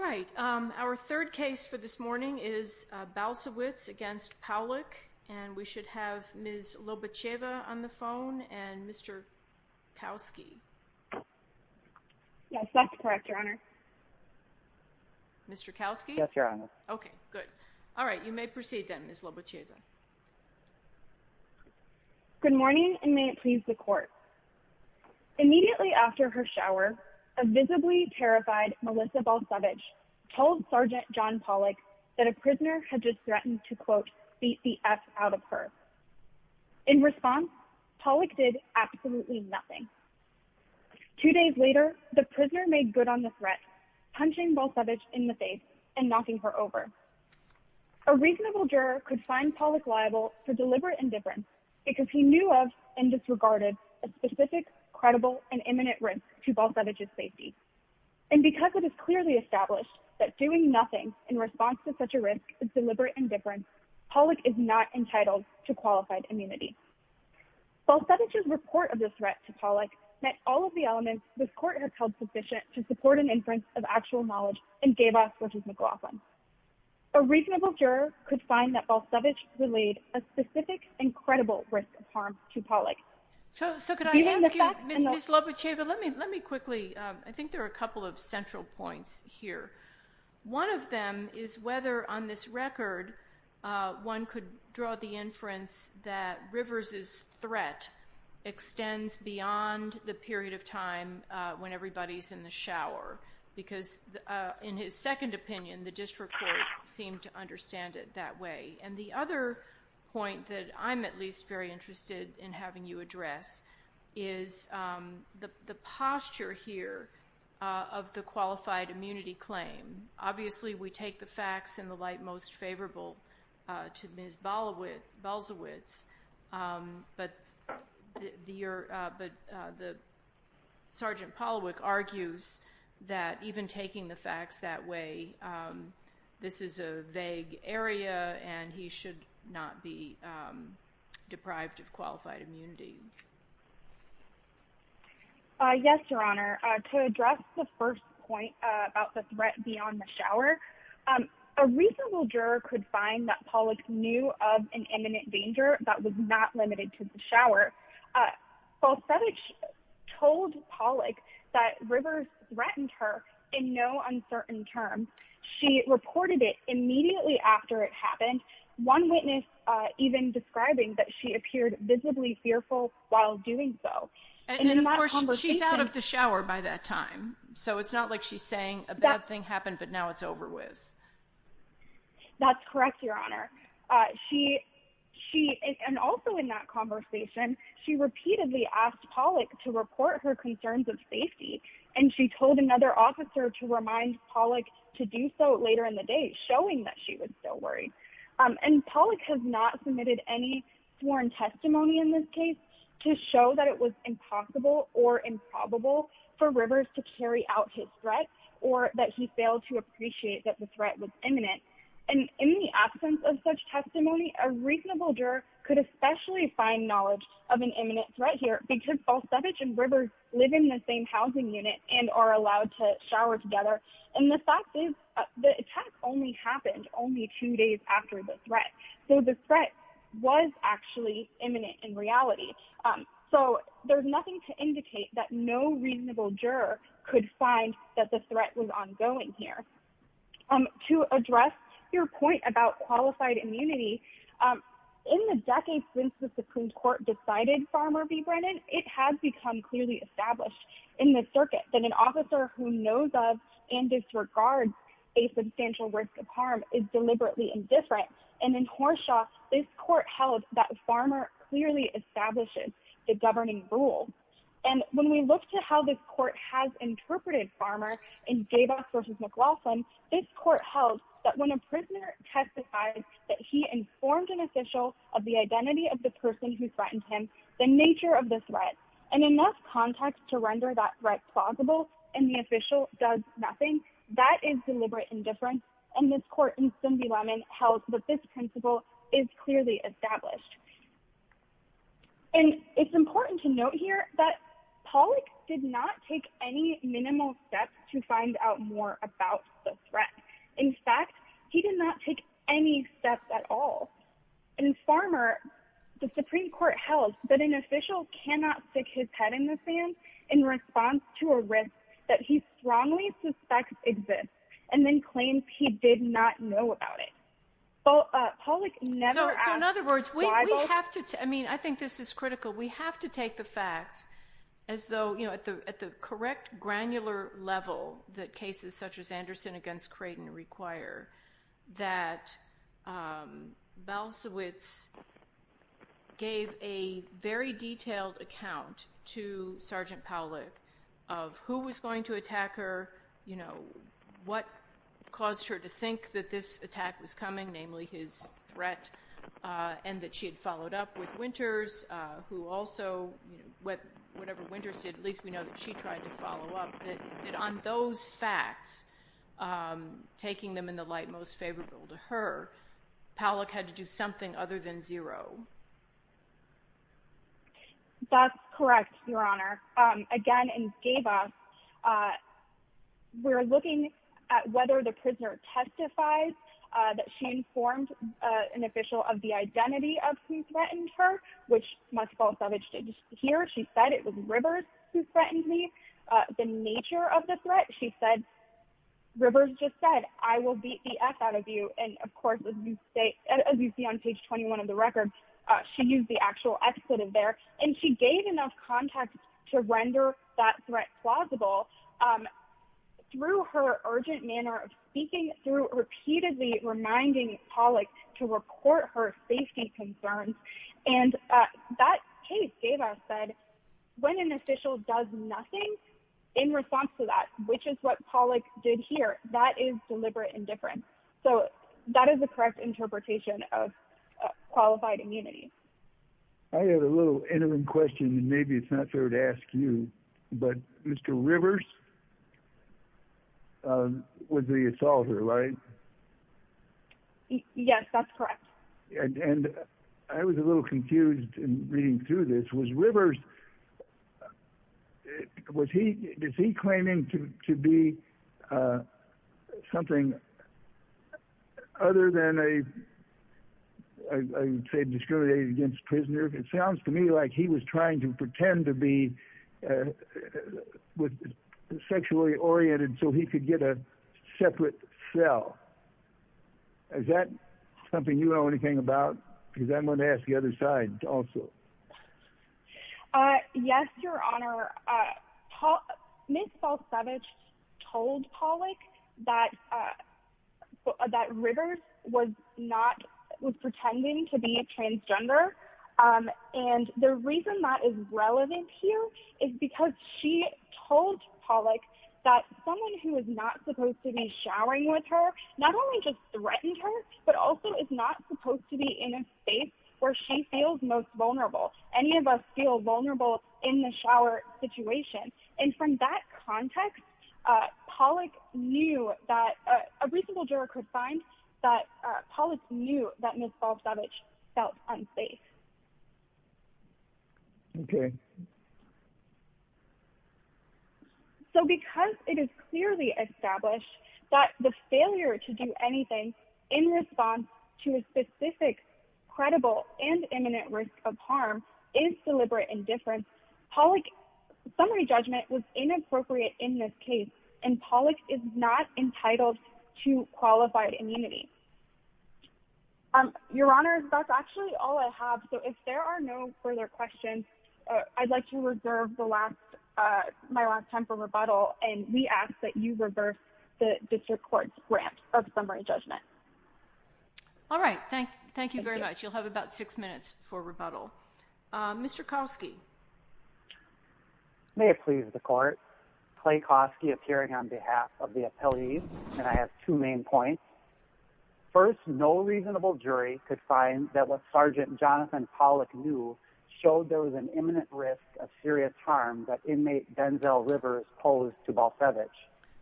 Good morning, and may it please the Court. Immediately after her shower, a visibly terrified Melissa Balsewicz told Sgt. John Pawlyk that a prisoner had just threatened to, quote, beat the F out of her. In response, Pawlyk did absolutely nothing. Two days later, the prisoner made good on the threat, punching Balsewicz in the face and knocking her over. A reasonable juror could find Pawlyk liable for deliberate indifference because he knew of and disregarded a specific, credible, and imminent risk to Balsewicz's safety. And because it is clearly established that doing nothing in response to such a risk is deliberate indifference, Pawlyk is not entitled to qualified immunity. Balsewicz's report of the threat to Pawlyk met all of the elements this Court has held sufficient to support an inference of actual knowledge and gave us, which is McLaughlin. A reasonable juror could find that Balsewicz relayed a specific and credible risk of harm to Pawlyk. So could I ask you, Ms. Lobacheva, let me quickly, I think there are a couple of central points here. One of them is whether on this record one could draw the inference that Rivers' threat extends beyond the period of time when everybody's in the shower. Because in his second opinion, the district court seemed to understand it that way. And the other point that I'm at least very interested in having you address is the posture here of the qualified immunity claim. Obviously, we take the facts in the light most favorable to Ms. Balsewicz. But Sergeant Pawlyk argues that even taking the facts that way, this is a vague area and he should not be deprived of qualified immunity. Yes, Your Honor. To address the first point about the threat beyond the shower, a reasonable juror could find that Pawlyk knew of an imminent danger that was not limited to the shower. Balsewicz told Pawlyk that Rivers threatened her in no uncertain terms. She reported it immediately after it happened, one witness even describing that she appeared visibly fearful while doing so. And of course, she's out of the shower by that time. So it's not like she's saying a bad thing happened, but now it's over with. That's correct, Your Honor. She and also in that conversation, she repeatedly asked Pawlyk to report her concerns of safety. And she told another officer to remind Pawlyk to do so later in the day, showing that she was still worried. And Pawlyk has not submitted any sworn testimony in this case to show that it was impossible or improbable for Rivers to carry out his threat or that he failed to appreciate that the threat was imminent. And in the absence of such testimony, a reasonable juror could especially find knowledge of an imminent threat here because Balsewicz and Rivers live in the same housing unit and are allowed to shower together. And the fact is, the attack only happened only two days after the threat. So the threat was actually imminent in reality. So there's nothing to indicate that no reasonable juror could find that the threat was ongoing here. To address your point about qualified immunity, in the decades since the Supreme Court decided Farmer v. Brennan, it has become clearly established in the circuit that an officer who knows of and disregards a substantial risk of harm is deliberately indifferent. And in Horshaw, this court held that Farmer clearly establishes the governing rules. And when we look to how this court has interpreted Farmer in Davis v. McLaughlin, this court held that when a prisoner testified that he informed an official of the identity of the person who threatened him, the nature of the threat, and enough context to render that threat plausible, and the official does nothing, that is deliberate indifference. And this court in Stonby-Lemon held that this principle is clearly established. And it's important to note here that Pollack did not take any minimal steps to find out more about the threat. In fact, he did not take any steps at all. In Farmer, the Supreme Court held that an official cannot stick his head in the sand in response to a risk that he strongly suspects exists, and then claims he did not know about it. So in other words, we have to, I mean, I think this is critical, we have to take the facts as though, you know, at the correct granular level that cases such as Anderson v. Creighton require, that Balcewicz gave a very detailed account to Sergeant Pollack of who was going to attack her, you know, what caused her to think that this attack was coming, namely his threat, and that she had followed up with Winters, who also, you know, whatever Winters did, at least we know that she tried to follow up, that on those facts, taking them in the light most favorable to her, Pollack had to do something other than zero. That's correct, Your Honor. Again, in Skava, we're looking at whether the prisoner testifies that she informed an official of the identity of who threatened her, which Ms. Balcewicz did not hear. She said it was Rivers who threatened me. The nature of the threat, she said, Rivers just said, I will beat the F out of you. And of course, as you say, as you see on page 21 of the record, she used the actual excitement there. And she gave enough context to render that threat plausible through her urgent manner of speaking, through repeatedly reminding Pollack to report her safety concerns. And that case, Skava said, when an official does nothing in response to that, which is what Pollack did here, that is deliberate indifference. So that is the correct interpretation of qualified immunity. I have a little interim question, and maybe it's not fair to ask you, but Mr. Rivers was the assaulter, right? Yes, that's correct. And I was a little confused in reading through this. Was Rivers, was he, is he claiming to be something other than a, I would say, discriminated against prisoner? It sounds to me like he was trying to pretend to be sexually oriented so he could get a separate cell. Is that something you know anything about? Because I'm going to ask the other side also. Yes, Your Honor. Ms. Balcevich told Pollack that Rivers was not, was pretending to be a transgender. And the reason that is relevant here is because she told Pollack that someone who is not supposed to be showering with her, not only just threatened her, but also is not supposed to be in a space where she feels most vulnerable. Any of us feel vulnerable in the shower situation. And from that context, Pollack knew that a reasonable juror could find that Pollack knew that Ms. Balcevich felt unsafe. Okay. So because it is clearly established that the failure to do anything in response to a specific, credible, and imminent risk of harm is deliberate indifference, Pollack's summary judgment was inappropriate in this case, and Pollack is not entitled to qualified immunity. Your Honor, that's actually all I have. So if there are no further questions, I'd like to reserve the last, my last time for rebuttal. And we ask that you reverse the district court's grant of summary judgment. All right. Thank you. Thank you very much. You'll have about six minutes for rebuttal. Mr. Kowski. May it please the court, Clay Kowski appearing on behalf of the appellees, and I have two main points. First, no reasonable jury could find that what Sergeant Jonathan Pollack knew showed there was an imminent risk of serious harm that inmate Denzel Rivers posed to Balcevich.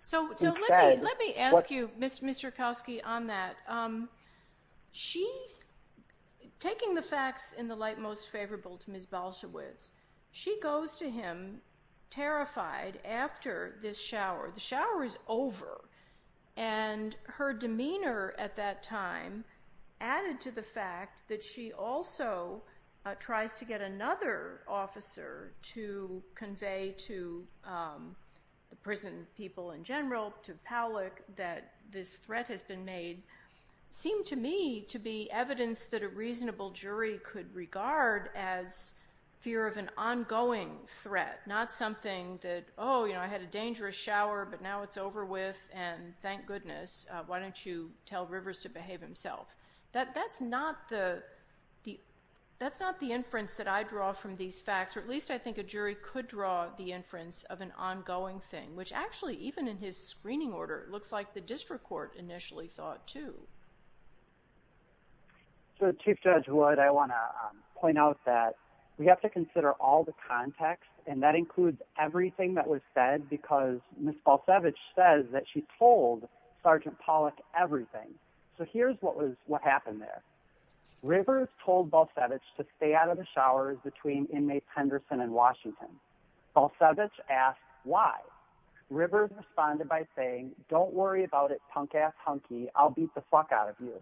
So let me ask you, Mr. Kowski, on that. She, taking the facts in the light most favorable to Ms. Balcevich, she goes to him terrified after this shower. The shower is over. And her demeanor at that time added to the fact that she also tries to get another officer to convey to the prison people in general, to Pollack, that this threat has been made, seemed to me to be evidence that a reasonable jury could regard as fear of an ongoing threat, not something that, oh, you know, I had a dangerous shower, but now it's over with, and thank goodness. Why don't you tell Rivers to behave himself? That's not the inference that I draw from these facts, or at least I think a jury could draw the inference of an ongoing thing, which actually, even in his screening order, looks like the district court initially thought, too. So, Chief Judge Wood, I want to point out that we have to consider all the context, and that includes everything that was said, because Ms. Balcevich says that she told Sergeant Pollack everything. So here's what happened there. Rivers told Balcevich to stay out of the showers between inmates Henderson and Washington. Balcevich asked why. Rivers responded by saying, don't worry about it, punk-ass hunky. I'll beat the fuck out of you.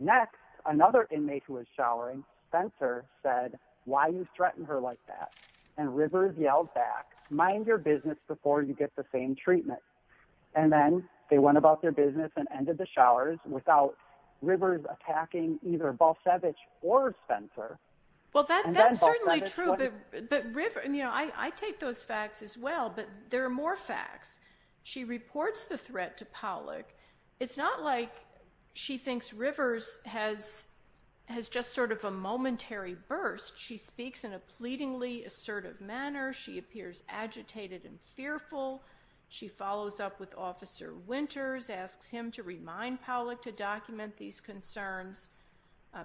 Next, another inmate who was showering, Spencer, said, why you threaten her like that? And Rivers yelled back, mind your business before you get the same treatment. And then they went about their business and ended the showers without Rivers attacking either Balcevich or Spencer. Well, that's certainly true, but, you know, I take those facts as well, but there are more facts. She reports the threat to Pollack. It's not like she thinks Rivers has just sort of a momentary burst. She speaks in a pleadingly assertive manner. She appears agitated and fearful. She follows up with Officer Winters, asks him to remind Pollack to document these concerns.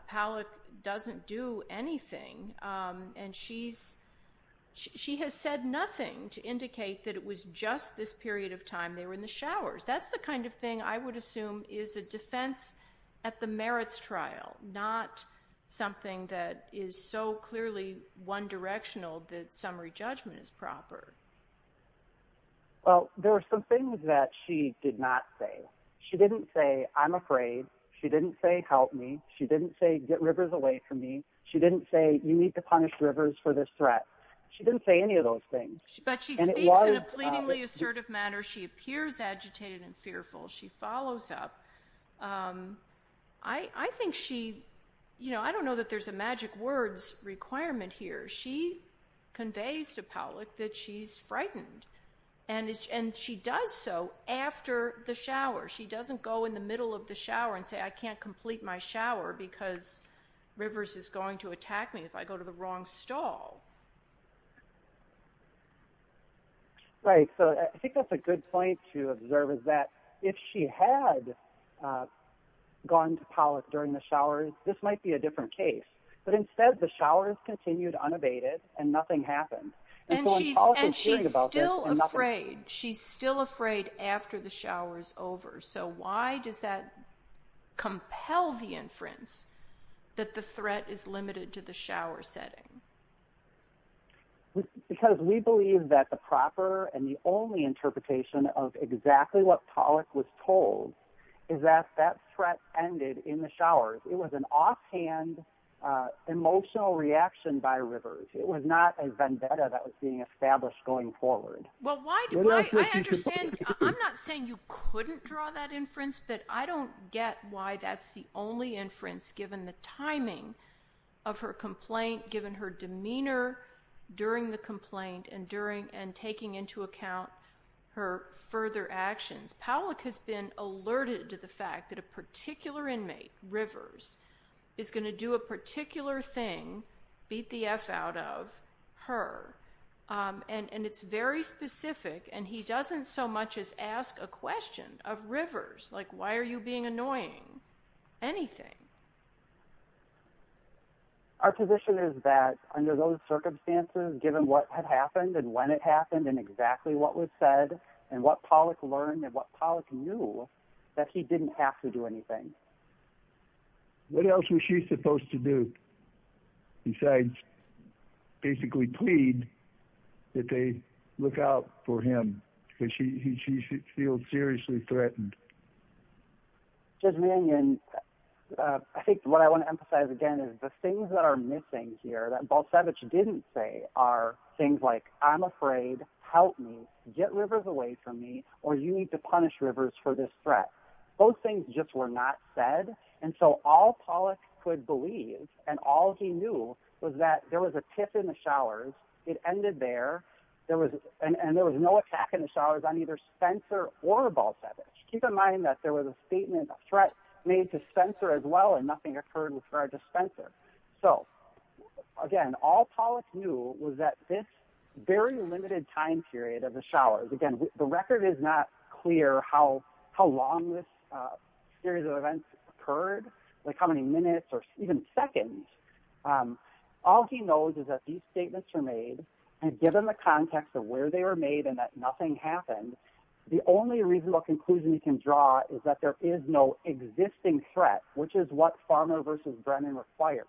Pollack doesn't do anything, and she has said nothing to indicate that it was just this period of time they were in the showers. That's the kind of thing I would assume is a defense at the merits trial, not something that is so clearly one directional that summary judgment is proper. Well, there are some things that she did not say. She didn't say, I'm afraid. She didn't say, help me. She didn't say, get Rivers away from me. She didn't say, you need to punish Rivers for this threat. She didn't say any of those things. But she speaks in a pleadingly assertive manner. She appears agitated and fearful. She follows up. I think she, you know, I don't know that there's a magic words requirement here. She conveys to Pollack that she's frightened, and she does so after the shower. She doesn't go in the middle of the shower and say, I can't complete my shower because Rivers is going to attack me if I go to the wrong stall. Right. So I think that's a good point to observe is that if she had gone to Pollack during the showers, this might be a different case. But instead, the showers continued unabated, and nothing happened. And she's still afraid. She's still afraid after the shower is over. So why does that compel the inference that the threat is limited to the shower setting? Because we believe that the proper and the only interpretation of exactly what Pollack was told is that that threat ended in the showers. It was an offhand emotional reaction by Rivers. It was not a vendetta that was being established going forward. Well, I understand. I'm not saying you couldn't draw that inference, but I don't get why that's the only inference given the timing of her complaint, given her demeanor during the complaint, and taking into account her further actions. Pollack has been alerted to the fact that a particular inmate, Rivers, is going to do a particular thing, beat the F out of her. And it's very specific, and he doesn't so much as ask a question of Rivers, like, why are you being annoying? Anything. Our position is that under those circumstances, given what had happened and when it happened and exactly what was said and what Pollack learned and what Pollack knew, that he didn't have to do anything. What else was she supposed to do besides basically plead that they look out for him? Because she feels seriously threatened. Judge Mannion, I think what I want to emphasize again is the things that are missing here that Balcevich didn't say are things like, I'm afraid, help me, get Rivers away from me, or you need to punish Rivers for this threat. Those things just were not said. And so all Pollack could believe and all he knew was that there was a tip in the showers. It ended there. And there was no attack in the showers on either Spencer or Balcevich. Keep in mind that there was a statement of threat made to Spencer as well, and nothing occurred for Spencer. So, again, all Pollack knew was that this very limited time period of the showers, again, the record is not clear how long this series of events occurred, like how many minutes or even seconds. All he knows is that these statements were made, and given the context of where they were made and that nothing happened, the only reasonable conclusion he can draw is that there is no existing threat, which is what Farmer v. Brennan requires.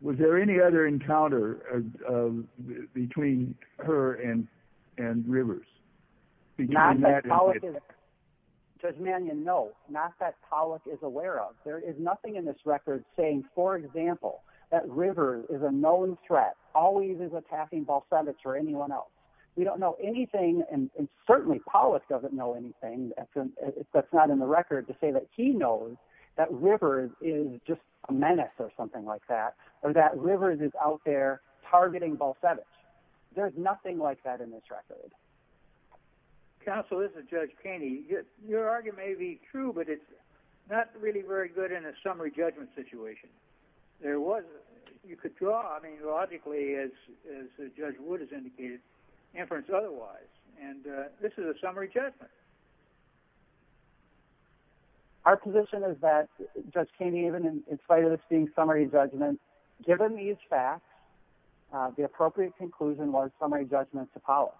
Was there any other encounter between her and Rivers? Judge Mannion, no, not that Pollack is aware of. There is nothing in this record saying, for example, that Rivers is a known threat, always is attacking Balcevich or anyone else. We don't know anything, and certainly Pollack doesn't know anything that's not in the record, to say that he knows that Rivers is just a menace or something like that, or that Rivers is out there targeting Balcevich. There's nothing like that in this record. Counsel, this is Judge Kainey. Your argument may be true, but it's not really very good in a summary judgment situation. You could draw, I mean, logically, as Judge Wood has indicated, inference otherwise, and this is a summary judgment. Our position is that, Judge Kainey, even in spite of this being summary judgment, given these facts, the appropriate conclusion was summary judgment to Pollack.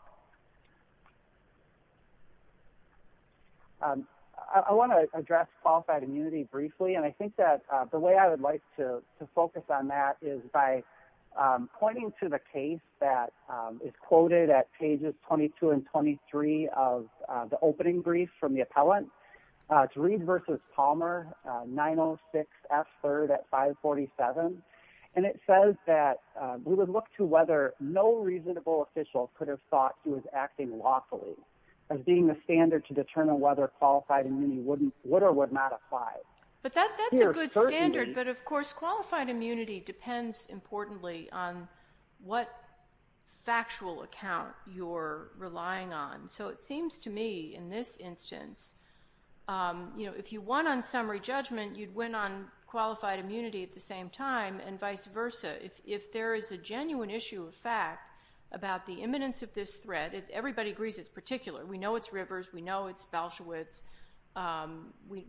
I want to address qualified immunity briefly, and I think that the way I would like to focus on that is by pointing to the case that is quoted at pages 22 and 23 of the opening brief from the appellant. It's Reed v. Palmer, 906F3rd at 547, and it says that we would look to whether no reasonable official could have thought he was acting lawfully, as being the standard to determine whether qualified immunity would or would not apply. But that's a good standard, but, of course, qualified immunity depends, importantly, on what factual account you're relying on. So it seems to me, in this instance, if you won on summary judgment, you'd win on qualified immunity at the same time and vice versa. If there is a genuine issue of fact about the imminence of this threat, if everybody agrees it's particular, we know it's Rivers, we know it's Balshewitz,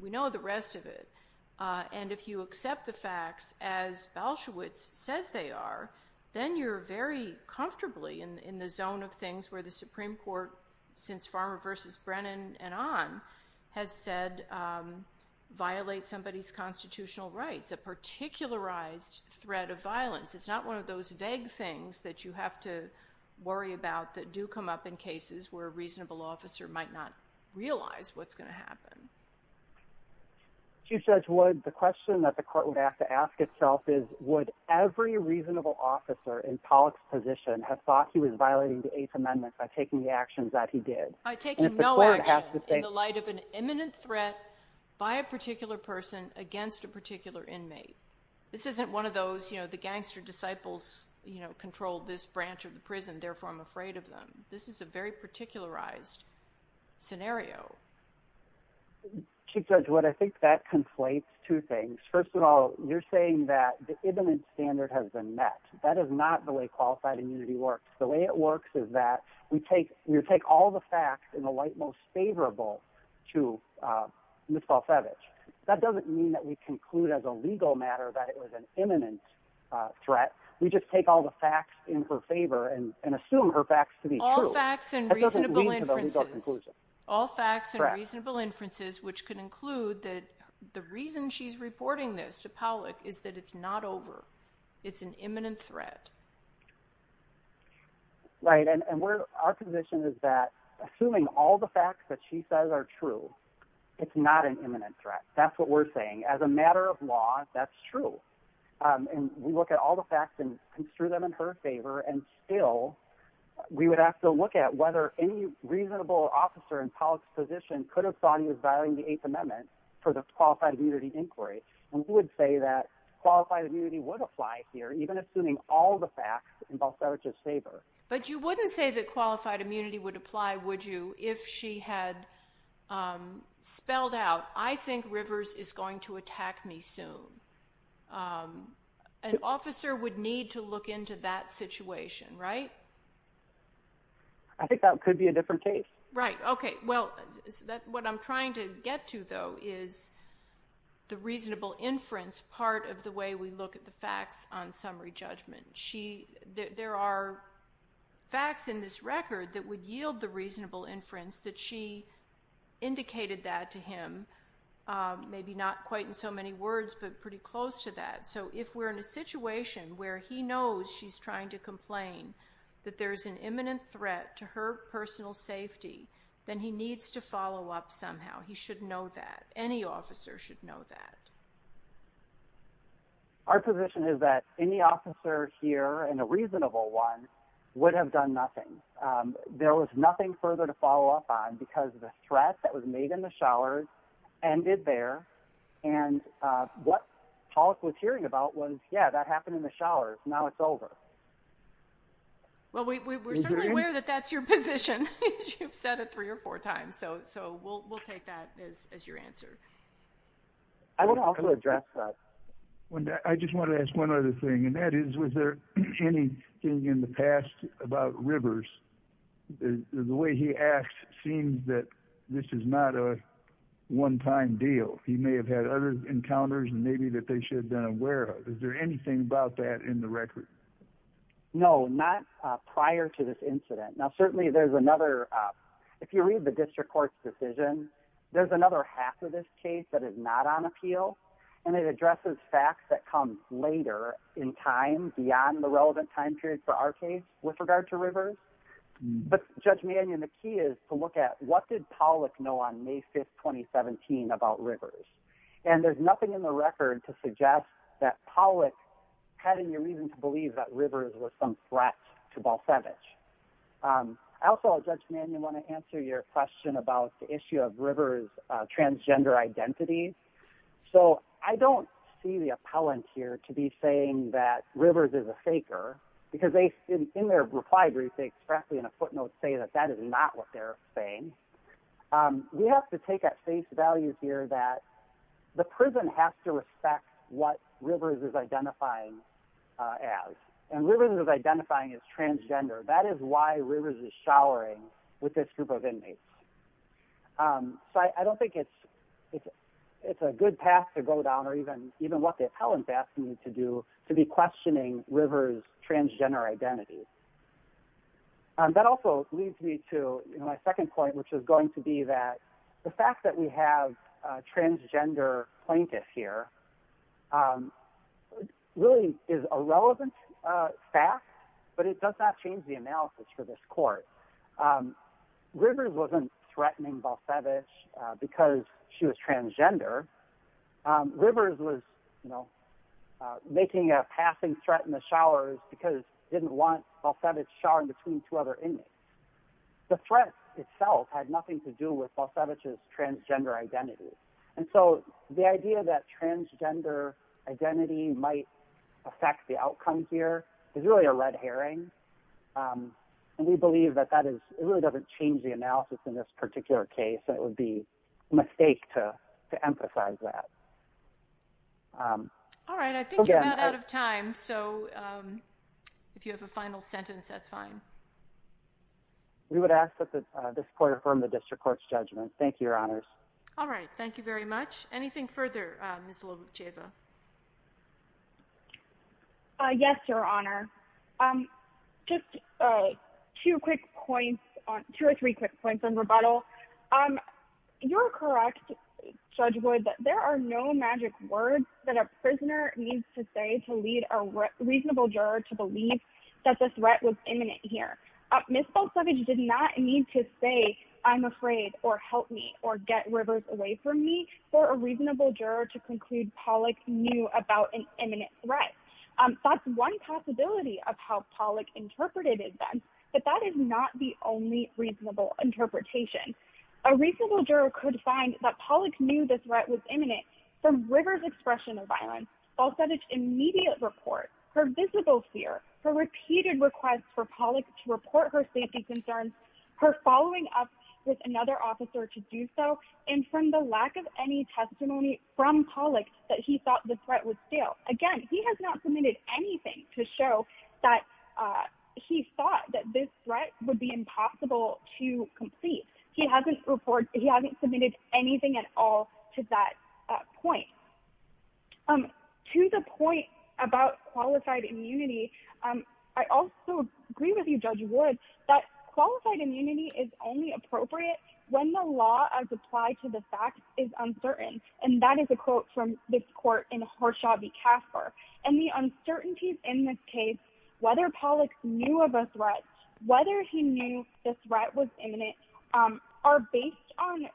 we know the rest of it. And if you accept the facts as Balshewitz says they are, then you're very comfortably in the zone of things where the Supreme Court, since Farmer v. Brennan and on, has said, violate somebody's constitutional rights, a particularized threat of violence. It's not one of those vague things that you have to worry about that do come up in cases where a reasonable officer might not realize what's going to happen. Chief Judge Wood, the question that the court would have to ask itself is, would every reasonable officer in Pollack's position have thought he was violating the Eighth Amendment by taking the actions that he did? By taking no action in the light of an imminent threat by a particular person against a particular inmate. This isn't one of those, you know, the gangster disciples, you know, control this branch of the prison, therefore I'm afraid of them. This is a very particularized scenario. Chief Judge Wood, I think that conflates two things. First of all, you're saying that the imminent standard has been met. That is not the way qualified immunity works. The way it works is that we take all the facts in the light most favorable to Ms. Balfevich. That doesn't mean that we conclude as a legal matter that it was an imminent threat. We just take all the facts in her favor and assume her facts to be true. All facts and reasonable inferences. All facts and reasonable inferences, which could include that the reason she's reporting this to Pollack is that it's not over. It's an imminent threat. Right, and our position is that assuming all the facts that she says are true, it's not an imminent threat. That's what we're saying. As a matter of law, that's true. We look at all the facts and construe them in her favor, and still we would have to look at whether any reasonable officer in Pollack's position could have thought he was violating the Eighth Amendment for the qualified immunity inquiry. We would say that qualified immunity would apply here, even assuming all the facts in Balfevich's favor. But you wouldn't say that qualified immunity would apply, would you, if she had spelled out, I think Rivers is going to attack me soon. An officer would need to look into that situation, right? I think that could be a different case. Right. Okay, well, what I'm trying to get to, though, is the reasonable inference part of the way we look at the facts on summary judgment. There are facts in this record that would yield the reasonable inference that she indicated that to him, maybe not quite in so many words, but pretty close to that. So if we're in a situation where he knows she's trying to complain that there's an imminent threat to her personal safety, then he needs to follow up somehow. He should know that. Any officer should know that. Our position is that any officer here, and a reasonable one, would have done nothing. There was nothing further to follow up on because the threat that was made in the showers ended there. And what Hollis was hearing about was, yeah, that happened in the showers. Now it's over. Well, we're certainly aware that that's your position, as you've said it three or four times. So we'll take that as your answer. I want to also address that. I just want to ask one other thing, and that is, was there anything in the past about Rivers? The way he asked seems that this is not a one-time deal. He may have had other encounters maybe that they should have been aware of. Is there anything about that in the record? No, not prior to this incident. Now, certainly there's another. If you read the district court's decision, there's another half of this case that is not on appeal, and it addresses facts that come later in time beyond the relevant time period for our case with regard to Rivers. But, Judge Mannion, the key is to look at what did Pollack know on May 5, 2017, about Rivers? And there's nothing in the record to suggest that Pollack had any reason to believe that Rivers was some threat to Balsavage. Also, Judge Mannion, I want to answer your question about the issue of Rivers' transgender identity. So I don't see the appellant here to be saying that Rivers is a faker, because in their reply brief they expressly in a footnote say that that is not what they're saying. We have to take at face value here that the prison has to respect what Rivers is identifying as, and Rivers is identifying as transgender. That is why Rivers is showering with this group of inmates. So I don't think it's a good path to go down, or even what the appellant asked me to do, to be questioning Rivers' transgender identity. That also leads me to my second point, which is going to be that the fact that we have a transgender plaintiff here really is a relevant fact, but it does not change the analysis for this court. Rivers wasn't threatening Balsavage because she was transgender. Rivers was making a passing threat in the showers because she didn't want Balsavage showering between two other inmates. The threat itself had nothing to do with Balsavage's transgender identity. And so the idea that transgender identity might affect the outcome here is really a red herring, and we believe that it really doesn't change the analysis in this particular case, and it would be a mistake to emphasize that. All right. I think you're about out of time, so if you have a final sentence, that's fine. We would ask that this court affirm the district court's judgment. Thank you, Your Honors. All right. Thank you very much. Anything further, Ms. Lobacheva? Yes, Your Honor. Just two or three quick points on rebuttal. You're correct, Judge Wood, that there are no magic words that a prisoner needs to say to lead a reasonable juror to believe that the threat was imminent here. Ms. Balsavage did not need to say, I'm afraid, or help me, or get Rivers away from me, for a reasonable juror to conclude Pollack knew about an imminent threat. That's one possibility of how Pollack interpreted events, but that is not the only reasonable interpretation. A reasonable juror could find that Pollack knew the threat was imminent from Rivers' expression of violence. Balsavage's immediate report, her visible fear, her repeated requests for Pollack to report her safety concerns, her following up with another officer to do so, and from the lack of any testimony from Pollack that he thought the threat was still. Again, he has not submitted anything to show that he thought that this threat would be impossible to complete. He hasn't submitted anything at all to that point. To the point about qualified immunity, I also agree with you, Judge Wood, that qualified immunity is only appropriate when the law as applied to the fact is uncertain. And that is a quote from this court in Horshavi Casper. And the uncertainties in this case, whether Pollack knew of a threat, whether he knew the threat was imminent, are based on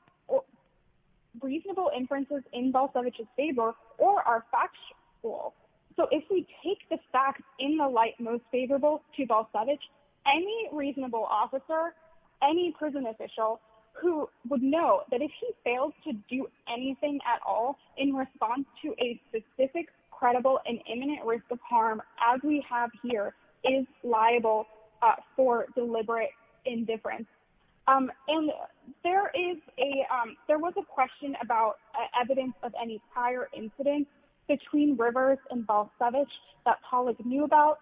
reasonable inferences in Balsavage's favor or are factual. So if we take the facts in the light most favorable to Balsavage, any reasonable officer, any prison official who would know that if he failed to do anything at all in response to a specific, credible and imminent risk of harm, as we have here, is liable for deliberate indifference. And there was a question about evidence of any prior incidents between Rivers and Balsavage that Pollack knew about.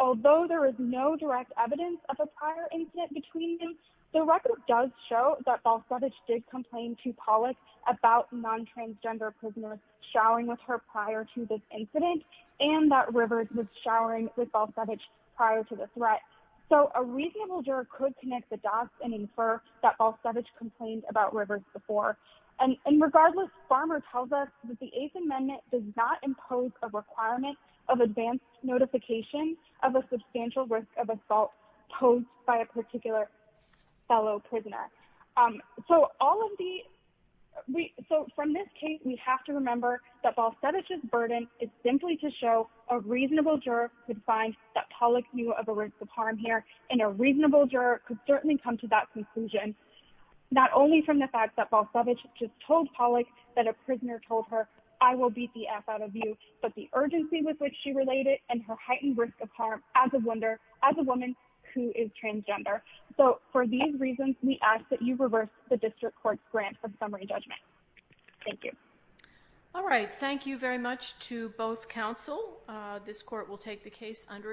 Although there is no direct evidence of a prior incident between them, the record does show that Balsavage did complain to Pollack about non-transgender prisoners showering with her prior to this incident and that Rivers was showering with Balsavage prior to the threat. So a reasonable juror could connect the dots and infer that Balsavage complained about Rivers before. And regardless, Farmer tells us that the Eighth Amendment does not impose a requirement of advanced notification of a substantial risk of assault posed by a particular fellow prisoner. So from this case, we have to remember that Balsavage's burden is simply to show a reasonable juror could find that Pollack knew of a risk of harm here, and a reasonable juror could certainly come to that conclusion, not only from the fact that Balsavage just told Pollack that a prisoner told her, I will beat the F out of you, but the urgency with which she related and her heightened risk of harm as a woman who is transgender. So for these reasons, we ask that you reverse the district court's grant of summary judgment. Thank you. All right. Thank you very much to both counsel. This court will take the case under advisement.